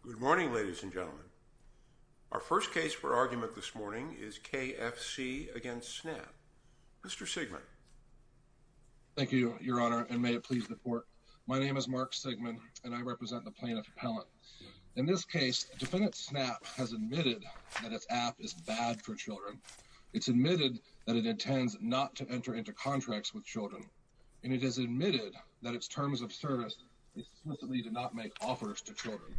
Good morning, ladies and gentlemen. Our first case for argument this morning is K.F.C. v. Snap. Mr. Sigman. Thank you, Your Honor, and may it please the Court. My name is Mark Sigman, and I represent the plaintiff, Pellant. In this case, defendant Snap has admitted that its app is bad for children. It's admitted that it intends not to enter into contracts with children. And it has admitted that its terms of service explicitly did not make offers to children.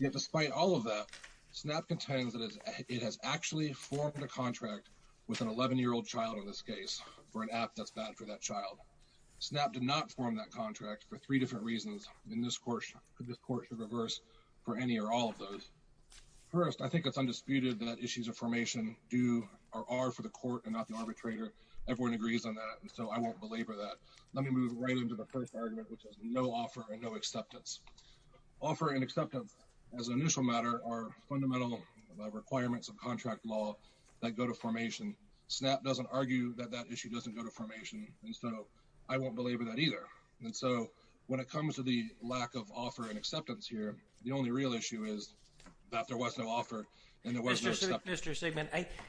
Yet despite all of that, Snap contends that it has actually formed a contract with an 11-year-old child in this case for an app that's bad for that child. Snap did not form that contract for three different reasons, and this Court should reverse for any or all of those. First, I think it's undisputed that issues of formation are for the Court and not the arbitrator. Everyone agrees on that, and so I won't belabor that. Let me move right into the first argument, which is no offer and no acceptance. Offer and acceptance, as an initial matter, are fundamental requirements of contract law that go to formation. Snap doesn't argue that that issue doesn't go to formation, and so I won't belabor that either. And so when it comes to the lack of offer and acceptance here, the only real issue is that there was no offer and there was no acceptance. Mr. Sigman,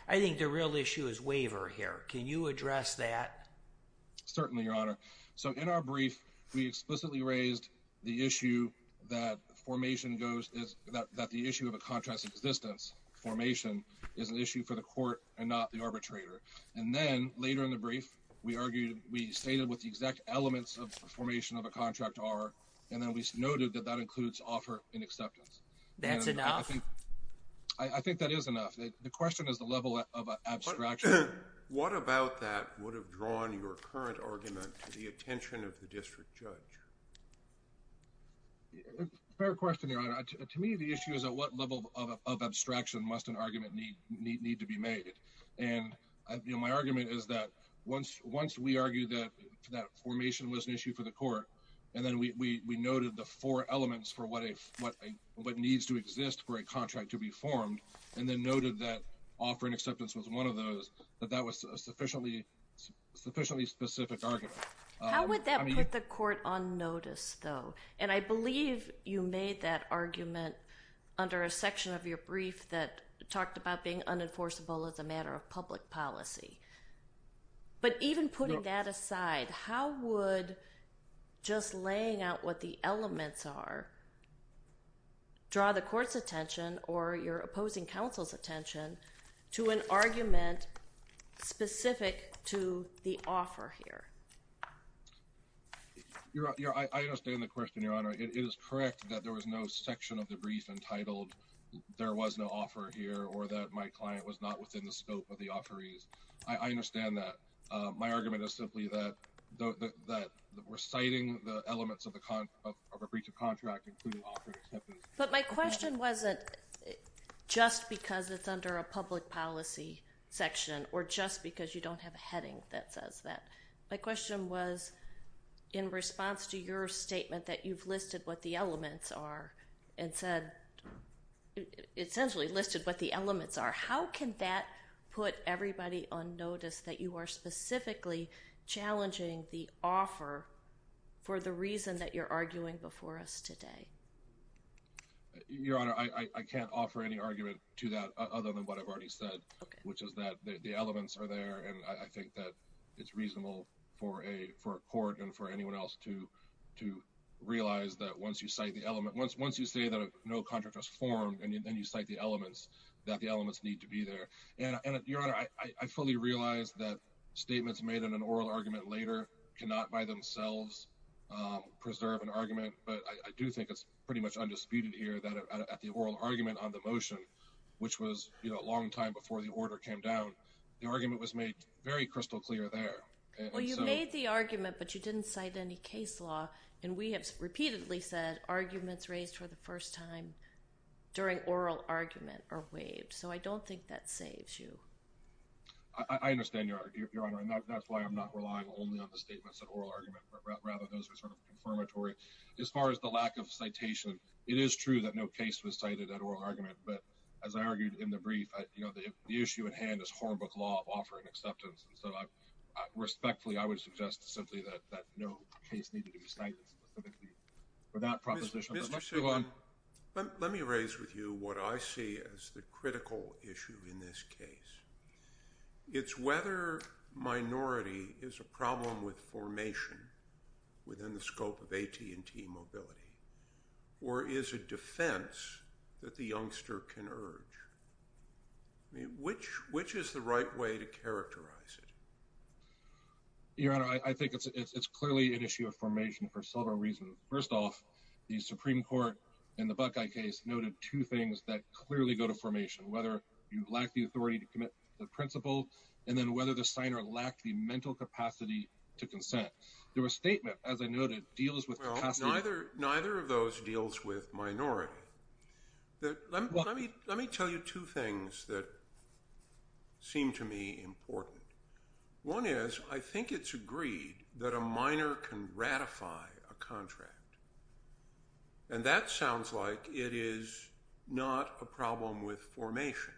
I think the real issue is waiver here. Can you address that? Certainly, Your Honor. So in our brief, we explicitly raised the issue that formation goes – that the issue of a contract's existence, formation, is an issue for the Court and not the arbitrator. And then later in the brief, we argued – we stated what the exact elements of formation of a contract are, and then we noted that that includes offer and acceptance. That's enough? I think that is enough. The question is the level of abstraction. What about that would have drawn your current argument to the attention of the district judge? Fair question, Your Honor. To me, the issue is at what level of abstraction must an argument need to be made. And my argument is that once we argued that formation was an issue for the Court, and then we noted the four elements for what needs to exist for a contract to be formed, and then noted that offer and acceptance was one of those, that that was a sufficiently specific argument. How would that put the Court on notice, though? And I believe you made that argument under a section of your brief that talked about being unenforceable as a matter of public policy. But even putting that aside, how would just laying out what the elements are draw the Court's attention or your opposing counsel's attention to an argument specific to the offer here? I understand the question, Your Honor. It is correct that there was no section of the brief entitled, there was no offer here, or that my client was not within the scope of the offerees. I understand that. My argument is simply that reciting the elements of a breach of contract, including offer and acceptance. But my question wasn't just because it's under a public policy section or just because you don't have a heading that says that. My question was in response to your statement that you've listed what the elements are and said, essentially listed what the elements are. How can that put everybody on notice that you are specifically challenging the offer for the reason that you're arguing before us today? Your Honor, I can't offer any argument to that other than what I've already said, which is that the elements are there. And I think that it's reasonable for a court and for anyone else to realize that once you cite the element, once you say that no contract was formed and you cite the elements, that the elements need to be there. And, Your Honor, I fully realize that statements made in an oral argument later cannot by themselves preserve an argument. But I do think it's pretty much undisputed here that at the oral argument on the motion, which was a long time before the order came down, the argument was made very crystal clear there. Well, you made the argument, but you didn't cite any case law. And we have repeatedly said arguments raised for the first time during oral argument are waived. So I don't think that saves you. I understand, Your Honor. And that's why I'm not relying only on the statements of oral argument, but rather those are sort of confirmatory. As far as the lack of citation, it is true that no case was cited at oral argument. But as I argued in the brief, you know, the issue at hand is Hornbook law of offering acceptance. And so respectfully, I would suggest simply that no case needed to be cited specifically for that proposition. Let me raise with you what I see as the critical issue in this case. It's whether minority is a problem with formation within the scope of AT&T mobility or is a defense that the youngster can urge. Which is the right way to characterize it? Your Honor, I think it's clearly an issue of formation for several reasons. First off, the Supreme Court in the Buckeye case noted two things that clearly go to formation, whether you lack the authority to commit the principle, and then whether the signer lacked the mental capacity to consent. There was a statement, as I noted, deals with capacity. Neither of those deals with minority. Let me tell you two things that seem to me important. One is I think it's agreed that a minor can ratify a contract. And that sounds like it is not a problem with formation.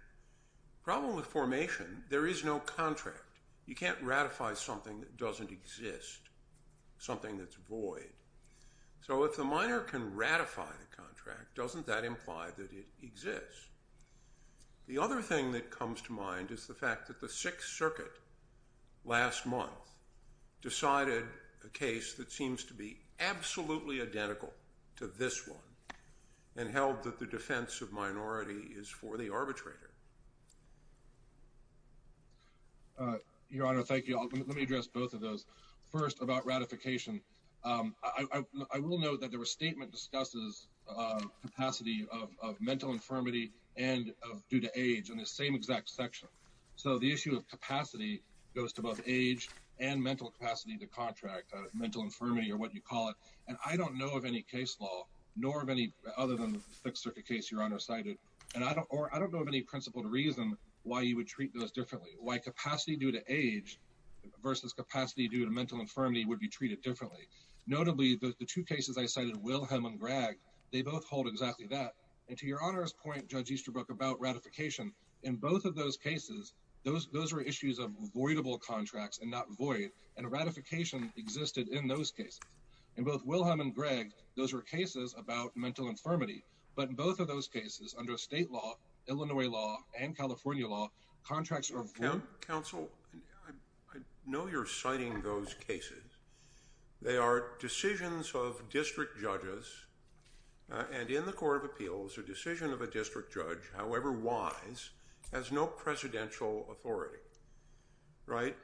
Problem with formation, there is no contract. You can't ratify something that doesn't exist, something that's void. So if the minor can ratify the contract, doesn't that imply that it exists? The other thing that comes to mind is the fact that the Sixth Circuit last month decided a case that seems to be absolutely identical to this one and held that the defense of minority is for the arbitrator. Your Honor, thank you. Let me address both of those. First, about ratification. I will note that there was a statement that discusses capacity of mental infirmity and due to age in the same exact section. So the issue of capacity goes to both age and mental capacity to contract mental infirmity, or what you call it. And I don't know of any case law, other than the Sixth Circuit case Your Honor cited, or I don't know of any principled reason why you would treat those differently. Why capacity due to age versus capacity due to mental infirmity would be treated differently. Notably, the two cases I cited, Wilhelm and Gregg, they both hold exactly that. And to Your Honor's point, Judge Easterbrook, about ratification, in both of those cases, those were issues of voidable contracts and not void, and ratification existed in those cases. In both Wilhelm and Gregg, those were cases about mental infirmity. But in both of those cases, under state law, Illinois law, and California law, contracts were void. Counsel, I know you're citing those cases. They are decisions of district judges, and in the Court of Appeals, a decision of a district judge, however wise, has no presidential authority. Right?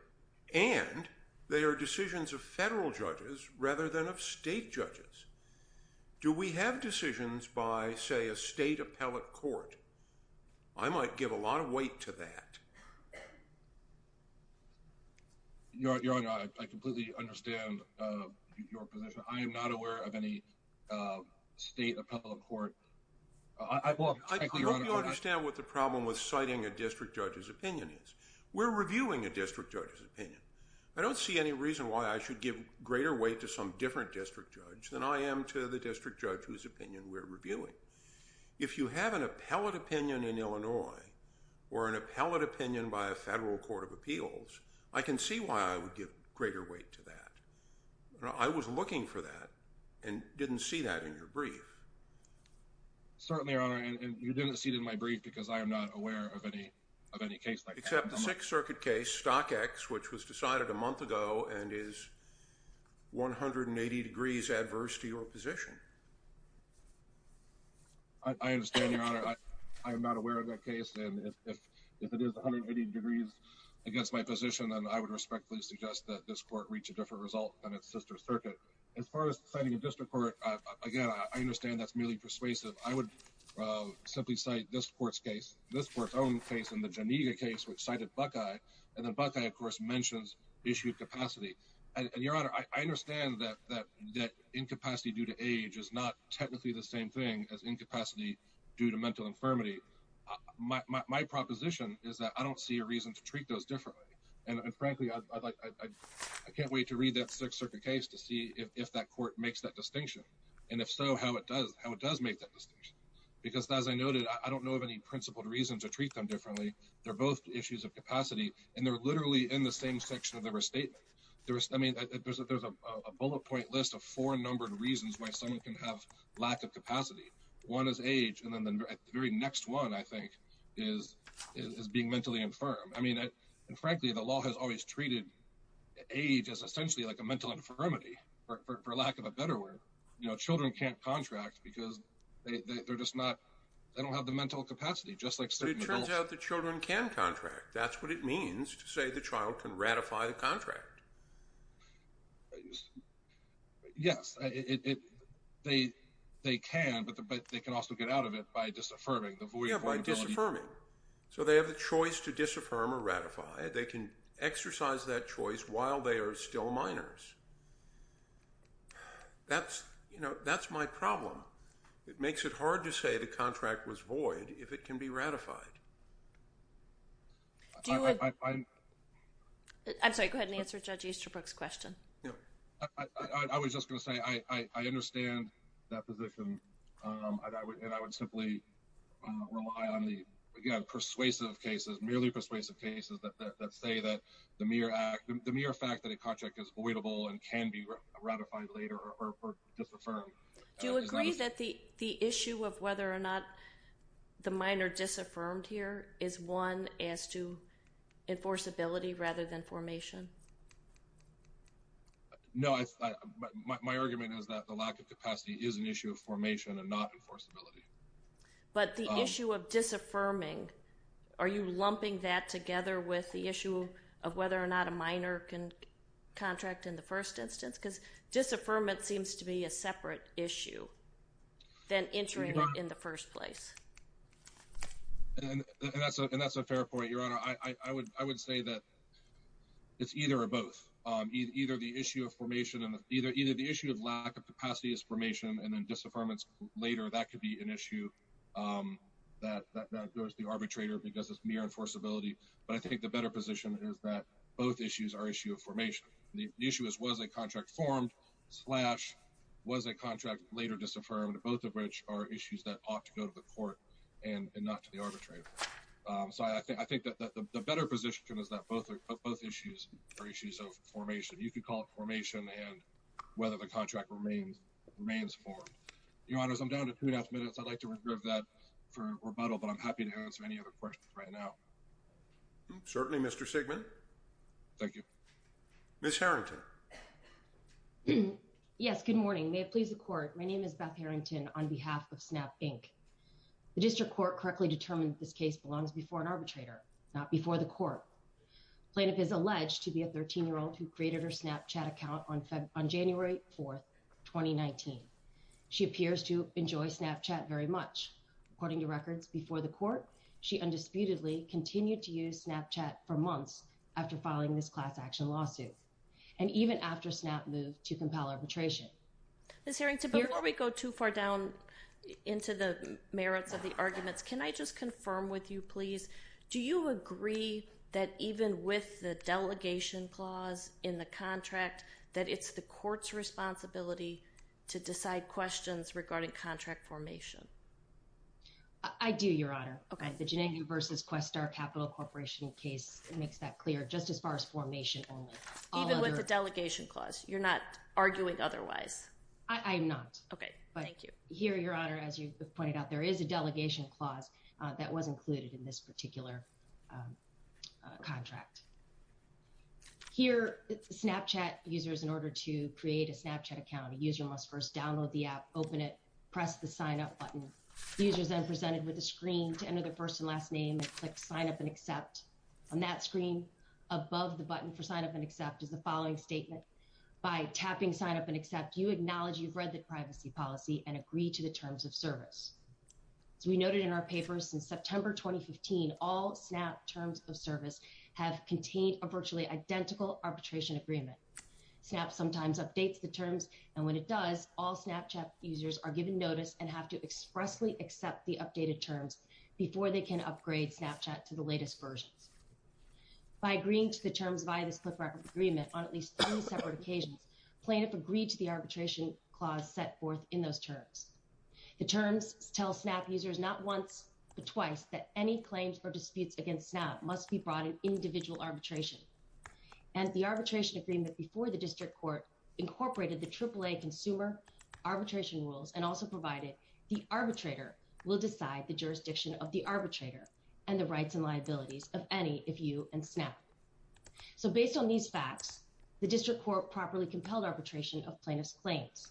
And they are decisions of federal judges rather than of state judges. Do we have decisions by, say, a state appellate court? I might give a lot of weight to that. Your Honor, I completely understand your position. I am not aware of any state appellate court. I hope you understand what the problem with citing a district judge's opinion is. We're reviewing a district judge's opinion. I don't see any reason why I should give greater weight to some different district judge than I am to the district judge whose opinion we're reviewing. If you have an appellate opinion in Illinois or an appellate opinion by a federal court of appeals, I can see why I would give greater weight to that. I was looking for that and didn't see that in your brief. Certainly, Your Honor, and you didn't see it in my brief because I am not aware of any case like that. Except the Sixth Circuit case, Stock X, which was decided a month ago and is 180 degrees adverse to your position. I understand, Your Honor. I am not aware of that case. And if it is 180 degrees against my position, then I would respectfully suggest that this court reach a different result than its sister circuit. As far as citing a district court, again, I understand that's merely persuasive. I would simply cite this court's own case and the Geneva case which cited Buckeye. And then Buckeye, of course, mentions issue of capacity. And, Your Honor, I understand that incapacity due to age is not technically the same thing as incapacity due to mental infirmity. My proposition is that I don't see a reason to treat those differently. And frankly, I can't wait to read that Sixth Circuit case to see if that court makes that distinction. And if so, how it does make that distinction. Because, as I noted, I don't know of any principled reason to treat them differently. They're both issues of capacity, and they're literally in the same section of the restatement. I mean, there's a bullet point list of four numbered reasons why someone can have lack of capacity. One is age, and then the very next one, I think, is being mentally infirm. I mean, frankly, the law has always treated age as essentially like a mental infirmity, for lack of a better word. You know, children can't contract because they don't have the mental capacity, just like some adults. But it turns out that children can contract. That's what it means to say the child can ratify the contract. Yes, they can, but they can also get out of it by disaffirming. So they have the choice to disaffirm or ratify. They can exercise that choice while they are still minors. That's, you know, that's my problem. It makes it hard to say the contract was void if it can be ratified. I'm sorry, go ahead and answer Judge Easterbrook's question. I was just going to say I understand that position, and I would simply rely on the persuasive cases, merely persuasive cases that say that the mere fact that a contract is voidable and can be ratified later or disaffirmed. Do you agree that the issue of whether or not the minor disaffirmed here is one as to enforceability rather than formation? No, my argument is that the lack of capacity is an issue of formation and not enforceability. But the issue of disaffirming, are you lumping that together with the issue of whether or not a minor can contract in the first instance? Because disaffirmment seems to be a separate issue than entering it in the first place. And that's a fair point, Your Honor. I would say that it's either or both, either the issue of formation and either the issue of lack of capacity as formation and then disaffirmance later, that could be an issue that goes to the arbitrator because it's mere enforceability. But I think the better position is that both issues are issues of formation. The issue is was a contract formed, slash, was a contract later disaffirmed, both of which are issues that ought to go to the court and not to the arbitrator. So I think that the better position is that both issues are issues of formation. You could call it formation and whether the contract remains formed. Your Honors, I'm down to two and a half minutes. I'd like to regroup that for rebuttal, but I'm happy to answer any other questions right now. Certainly, Mr. Sigman. Thank you. Ms. Harrington. Yes, good morning. May it please the court. My name is Beth Harrington on behalf of Snap Inc. The district court correctly determined this case belongs before an arbitrator, not before the court. Plaintiff is alleged to be a 13-year-old who created her Snapchat account on January 4th, 2019. She appears to enjoy Snapchat very much. According to records before the court, she undisputedly continued to use Snapchat for months after filing this class action lawsuit. And even after Snap moved to compel arbitration. Ms. Harrington, before we go too far down into the merits of the arguments, can I just confirm with you, please, do you agree that even with the delegation clause in the contract, that it's the court's responsibility to decide questions regarding contract formation? I do, Your Honor. Okay. The Janangu v. Questar Capital Corporation case makes that clear, just as far as formation only. Even with the delegation clause? You're not arguing otherwise? I am not. Okay. Thank you. Here, Your Honor, as you pointed out, there is a delegation clause that was included in this particular contract. Here, Snapchat users, in order to create a Snapchat account, a user must first download the app, open it, press the sign-up button. The user is then presented with a screen. To enter their first and last name, click sign up and accept. On that screen, above the button for sign up and accept, is the following statement. By tapping sign up and accept, you acknowledge you've read the privacy policy and agree to the terms of service. As we noted in our papers, since September 2015, all Snap terms of service have contained a virtually identical arbitration agreement. Snap sometimes updates the terms, and when it does, all Snapchat users are given notice and have to expressly accept the updated terms before they can upgrade Snapchat to the latest versions. By agreeing to the terms via this cliff record agreement on at least three separate occasions, plaintiffs agree to the arbitration clause set forth in those terms. The terms tell Snap users not once but twice that any claims or disputes against Snap must be brought in individual arbitration. And the arbitration agreement before the district court incorporated the AAA consumer arbitration rules and also provided the arbitrator will decide the jurisdiction of the arbitrator and the rights and liabilities of any, if you, and Snap. So based on these facts, the district court properly compelled arbitration of plaintiff's claims.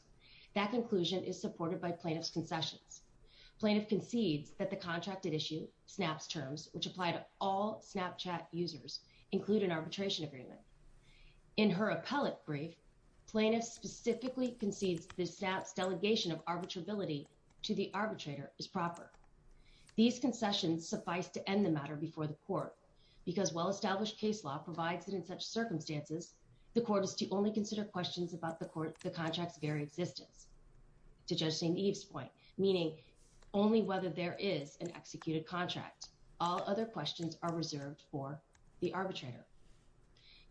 That conclusion is supported by plaintiff's concessions. Plaintiff concedes that the contracted issue, Snap's terms, which apply to all Snapchat users, include an arbitration agreement. In her appellate brief, plaintiff specifically concedes that Snap's delegation of arbitrability to the arbitrator is proper. These concessions suffice to end the matter before the court, because while established case law provides it in such circumstances, the court is to only consider questions about the contract's very existence. To Judge St. Eve's point, meaning only whether there is an executed contract. All other questions are reserved for the arbitrator.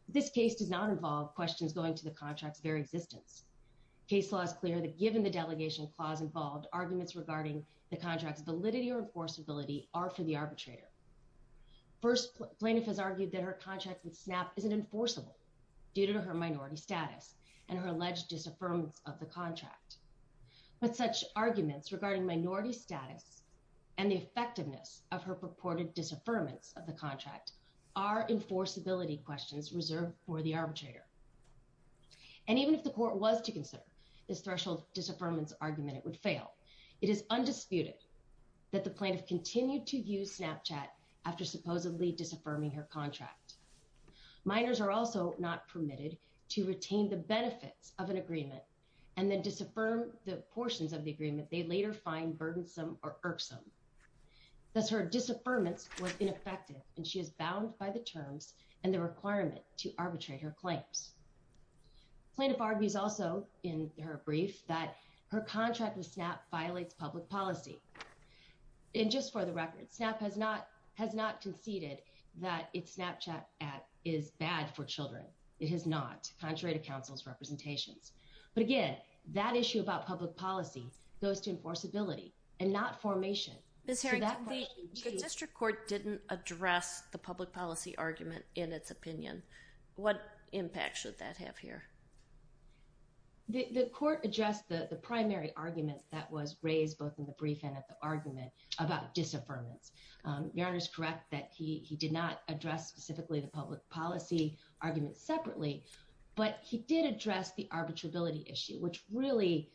This case does not involve questions going to the contract's very existence. Case law is clear that given the delegation clause involved, arguments regarding the contract's validity or enforceability are for the arbitrator. First, plaintiff has argued that her contract with Snap isn't enforceable due to her minority status and her alleged disaffirmance of the contract. But such arguments regarding minority status and the effectiveness of her purported disaffirmance of the contract are enforceability questions reserved for the arbitrator. And even if the court was to consider this threshold disaffirmance argument, it would fail. It is undisputed that the plaintiff continued to use Snapchat after supposedly disaffirming her contract. Minors are also not permitted to retain the benefits of an agreement and then disaffirm the portions of the agreement they later find burdensome or irksome. Thus, her disaffirmance was ineffective and she is bound by the terms and the requirement to arbitrate her claims. Plaintiff argues also in her brief that her contract with Snap violates public policy. And just for the record, Snap has not conceded that its Snapchat app is bad for children. It is not, contrary to counsel's representations. But again, that issue about public policy goes to enforceability and not formation. Ms. Herring, the district court didn't address the public policy argument in its opinion. What impact should that have here? The court addressed the primary argument that was raised both in the brief and at the argument about disaffirmance. Your Honor is correct that he did not address specifically the public policy argument separately. But he did address the arbitrability issue, which really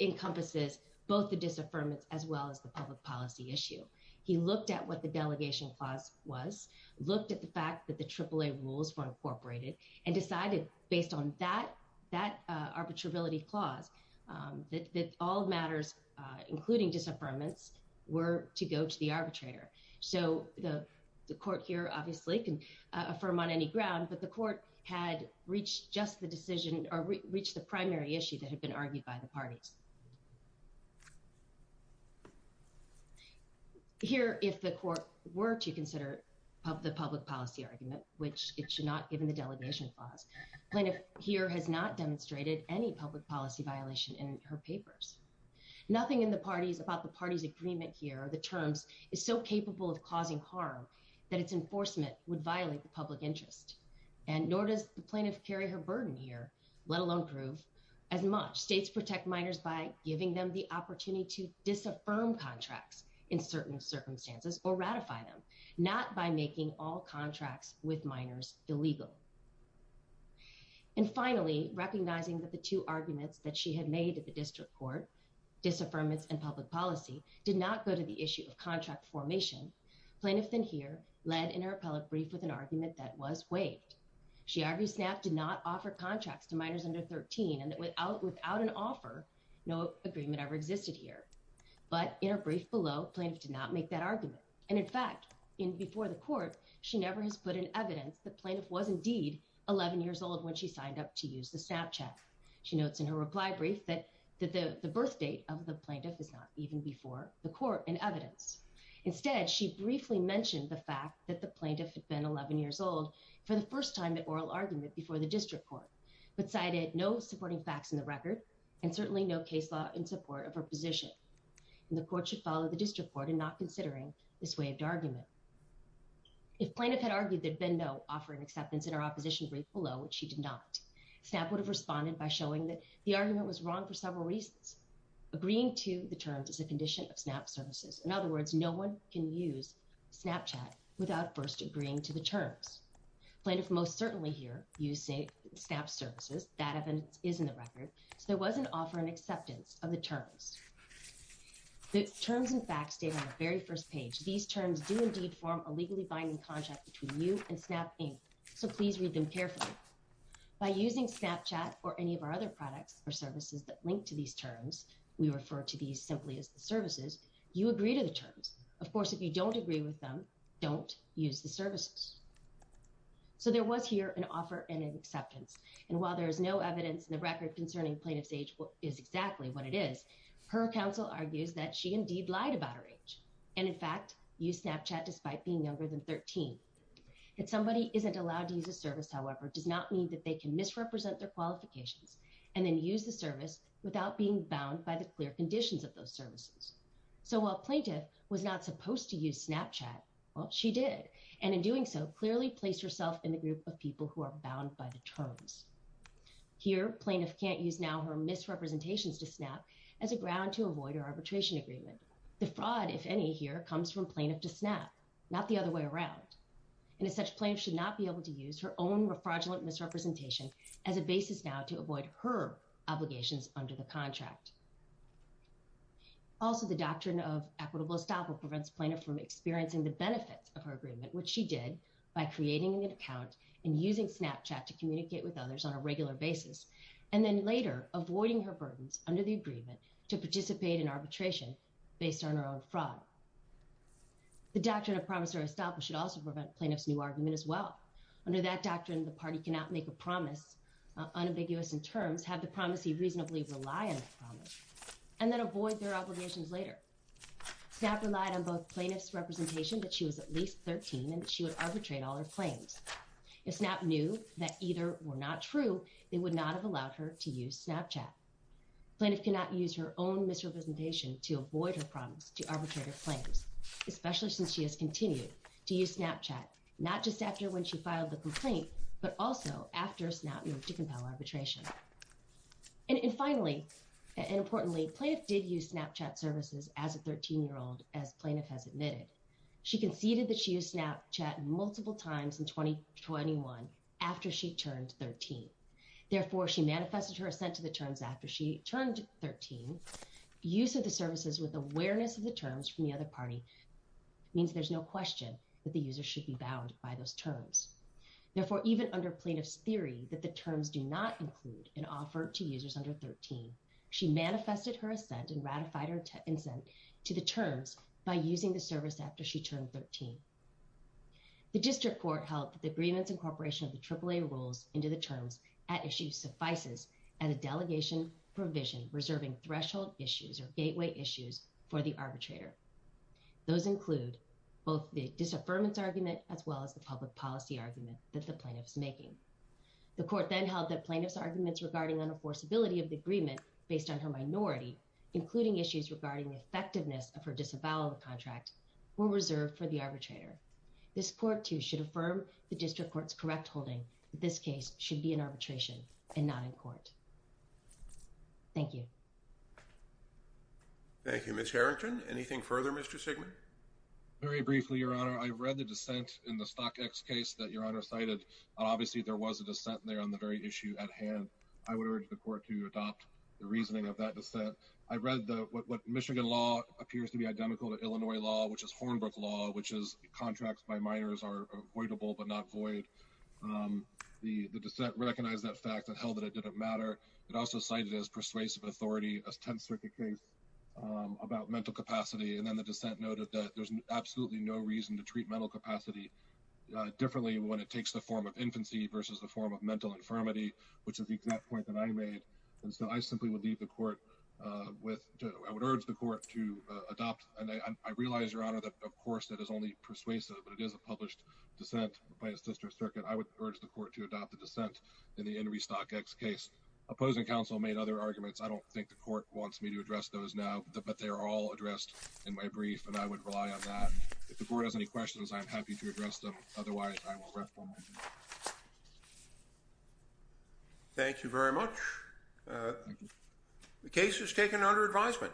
encompasses both the disaffirmance as well as the public policy issue. He looked at what the delegation clause was, looked at the fact that the AAA rules were incorporated and decided based on that arbitrability clause that all matters, including disaffirmance, were to go to the arbitrator. So the court here obviously can affirm on any ground, but the court had reached just the decision or reached the primary issue that had been argued by the parties. Here, if the court were to consider the public policy argument, which it should not, given the delegation clause, plaintiff here has not demonstrated any public policy violation in her papers. Nothing in the parties about the party's agreement here or the terms is so capable of causing harm that its enforcement would violate the public interest. And nor does the plaintiff carry her burden here, let alone prove as much. States protect minors by giving them the opportunity to disaffirm contracts in certain circumstances or ratify them, not by making all contracts with minors illegal. And finally, recognizing that the two arguments that she had made at the district court, disaffirmance and public policy, did not go to the issue of contract formation. Plaintiff then here led in her appellate brief with an argument that was waived. She argued SNAP did not offer contracts to minors under 13 and that without an offer, no agreement ever existed here. But in her brief below, plaintiff did not make that argument. And in fact, in before the court, she never has put in evidence that plaintiff was indeed 11 years old when she signed up to use the Snapchat. She notes in her reply brief that the birth date of the plaintiff is not even before the court in evidence. Instead, she briefly mentioned the fact that the plaintiff had been 11 years old for the first time at oral argument before the district court. But cited no supporting facts in the record and certainly no case law in support of her position. And the court should follow the district court in not considering this waived argument. If plaintiff had argued there had been no offering acceptance in her opposition brief below, which she did not, SNAP would have responded by showing that the argument was wrong for several reasons. Agreeing to the terms is a condition of SNAP services. In other words, no one can use Snapchat without first agreeing to the terms. Plaintiff most certainly here used SNAP services. That evidence is in the record. So there was an offering acceptance of the terms. The terms and facts stated on the very first page. These terms do indeed form a legally binding contract between you and SNAP, so please read them carefully. By using Snapchat or any of our other products or services that link to these terms, we refer to these simply as the services, you agree to the terms. Of course, if you don't agree with them, don't use the services. So there was here an offer and an acceptance. And while there is no evidence in the record concerning plaintiff's age is exactly what it is, her counsel argues that she indeed lied about her age and, in fact, used Snapchat despite being younger than 13. If somebody isn't allowed to use a service, however, does not mean that they can misrepresent their qualifications and then use the service without being bound by the clear conditions of those services. So while plaintiff was not supposed to use Snapchat, well, she did. And in doing so, clearly placed herself in the group of people who are bound by the terms. Here, plaintiff can't use now her misrepresentations to SNAP as a ground to avoid her arbitration agreement. The fraud, if any, here comes from plaintiff to SNAP, not the other way around. And as such, plaintiff should not be able to use her own fraudulent misrepresentation as a basis now to avoid her obligations under the contract. Also, the doctrine of equitable estoppel prevents plaintiff from experiencing the benefits of her agreement, which she did by creating an account and using Snapchat to communicate with others on a regular basis and then later avoiding her burdens under the agreement to participate in arbitration based on her own fraud. The doctrine of promissory estoppel should also prevent plaintiff's new argument as well. Under that doctrine, the party cannot make a promise unambiguous in terms, have the promise you reasonably rely on the promise, and then avoid their obligations later. SNAP relied on both plaintiff's representation that she was at least 13 and she would arbitrate all her claims. If SNAP knew that either were not true, they would not have allowed her to use Snapchat. Plaintiff cannot use her own misrepresentation to avoid her promise to arbitrate her claims, especially since she has continued to use Snapchat, not just after when she filed the complaint, but also after SNAP moved to compel arbitration. And finally, and importantly, plaintiff did use Snapchat services as a 13-year-old, as plaintiff has admitted. She conceded that she used Snapchat multiple times in 2021 after she turned 13. Therefore, she manifested her assent to the terms after she turned 13. Use of the services with awareness of the terms from the other party means there's no question that the user should be bound by those terms. Therefore, even under plaintiff's theory that the terms do not include an offer to users under 13, she manifested her assent and ratified her assent to the terms by using the service after she turned 13. The District Court held that the grievance incorporation of the AAA rules into the terms at issue suffices as a delegation provision reserving threshold issues or gateway issues for the arbitrator. Those include both the disaffirmance argument as well as the public policy argument that the plaintiff is making. The court then held that plaintiff's arguments regarding unenforceability of the agreement based on her minority, including issues regarding the effectiveness of her disavowal of the contract, were reserved for the arbitrator. This court, too, should affirm the District Court's correct holding that this case should be an arbitration and not in court. Thank you. Thank you, Ms. Harrington. Anything further, Mr. Sigman? Very briefly, Your Honor, I read the dissent in the StockX case that Your Honor cited. Obviously, there was a dissent there on the very issue at hand. I would urge the court to adopt the reasoning of that dissent. I read what Michigan law appears to be identical to Illinois law, which is Hornbrook law, which is contracts by minors are avoidable but not void. The dissent recognized that fact and held that it didn't matter. It also cited as persuasive authority a Tenth Circuit case about mental capacity. And then the dissent noted that there's absolutely no reason to treat mental capacity differently when it takes the form of infancy versus the form of mental infirmity, which is the exact point that I made. And so I simply would leave the court with I would urge the court to adopt. And I realize, Your Honor, that, of course, that is only persuasive, but it is a published dissent by a Sister Circuit. I would urge the court to adopt the dissent in the Henry StockX case. Opposing counsel made other arguments. I don't think the court wants me to address those now, but they are all addressed in my brief, and I would rely on that. If the board has any questions, I'm happy to address them. Otherwise, I will refer them. Thank you very much. The case is taken under advisement.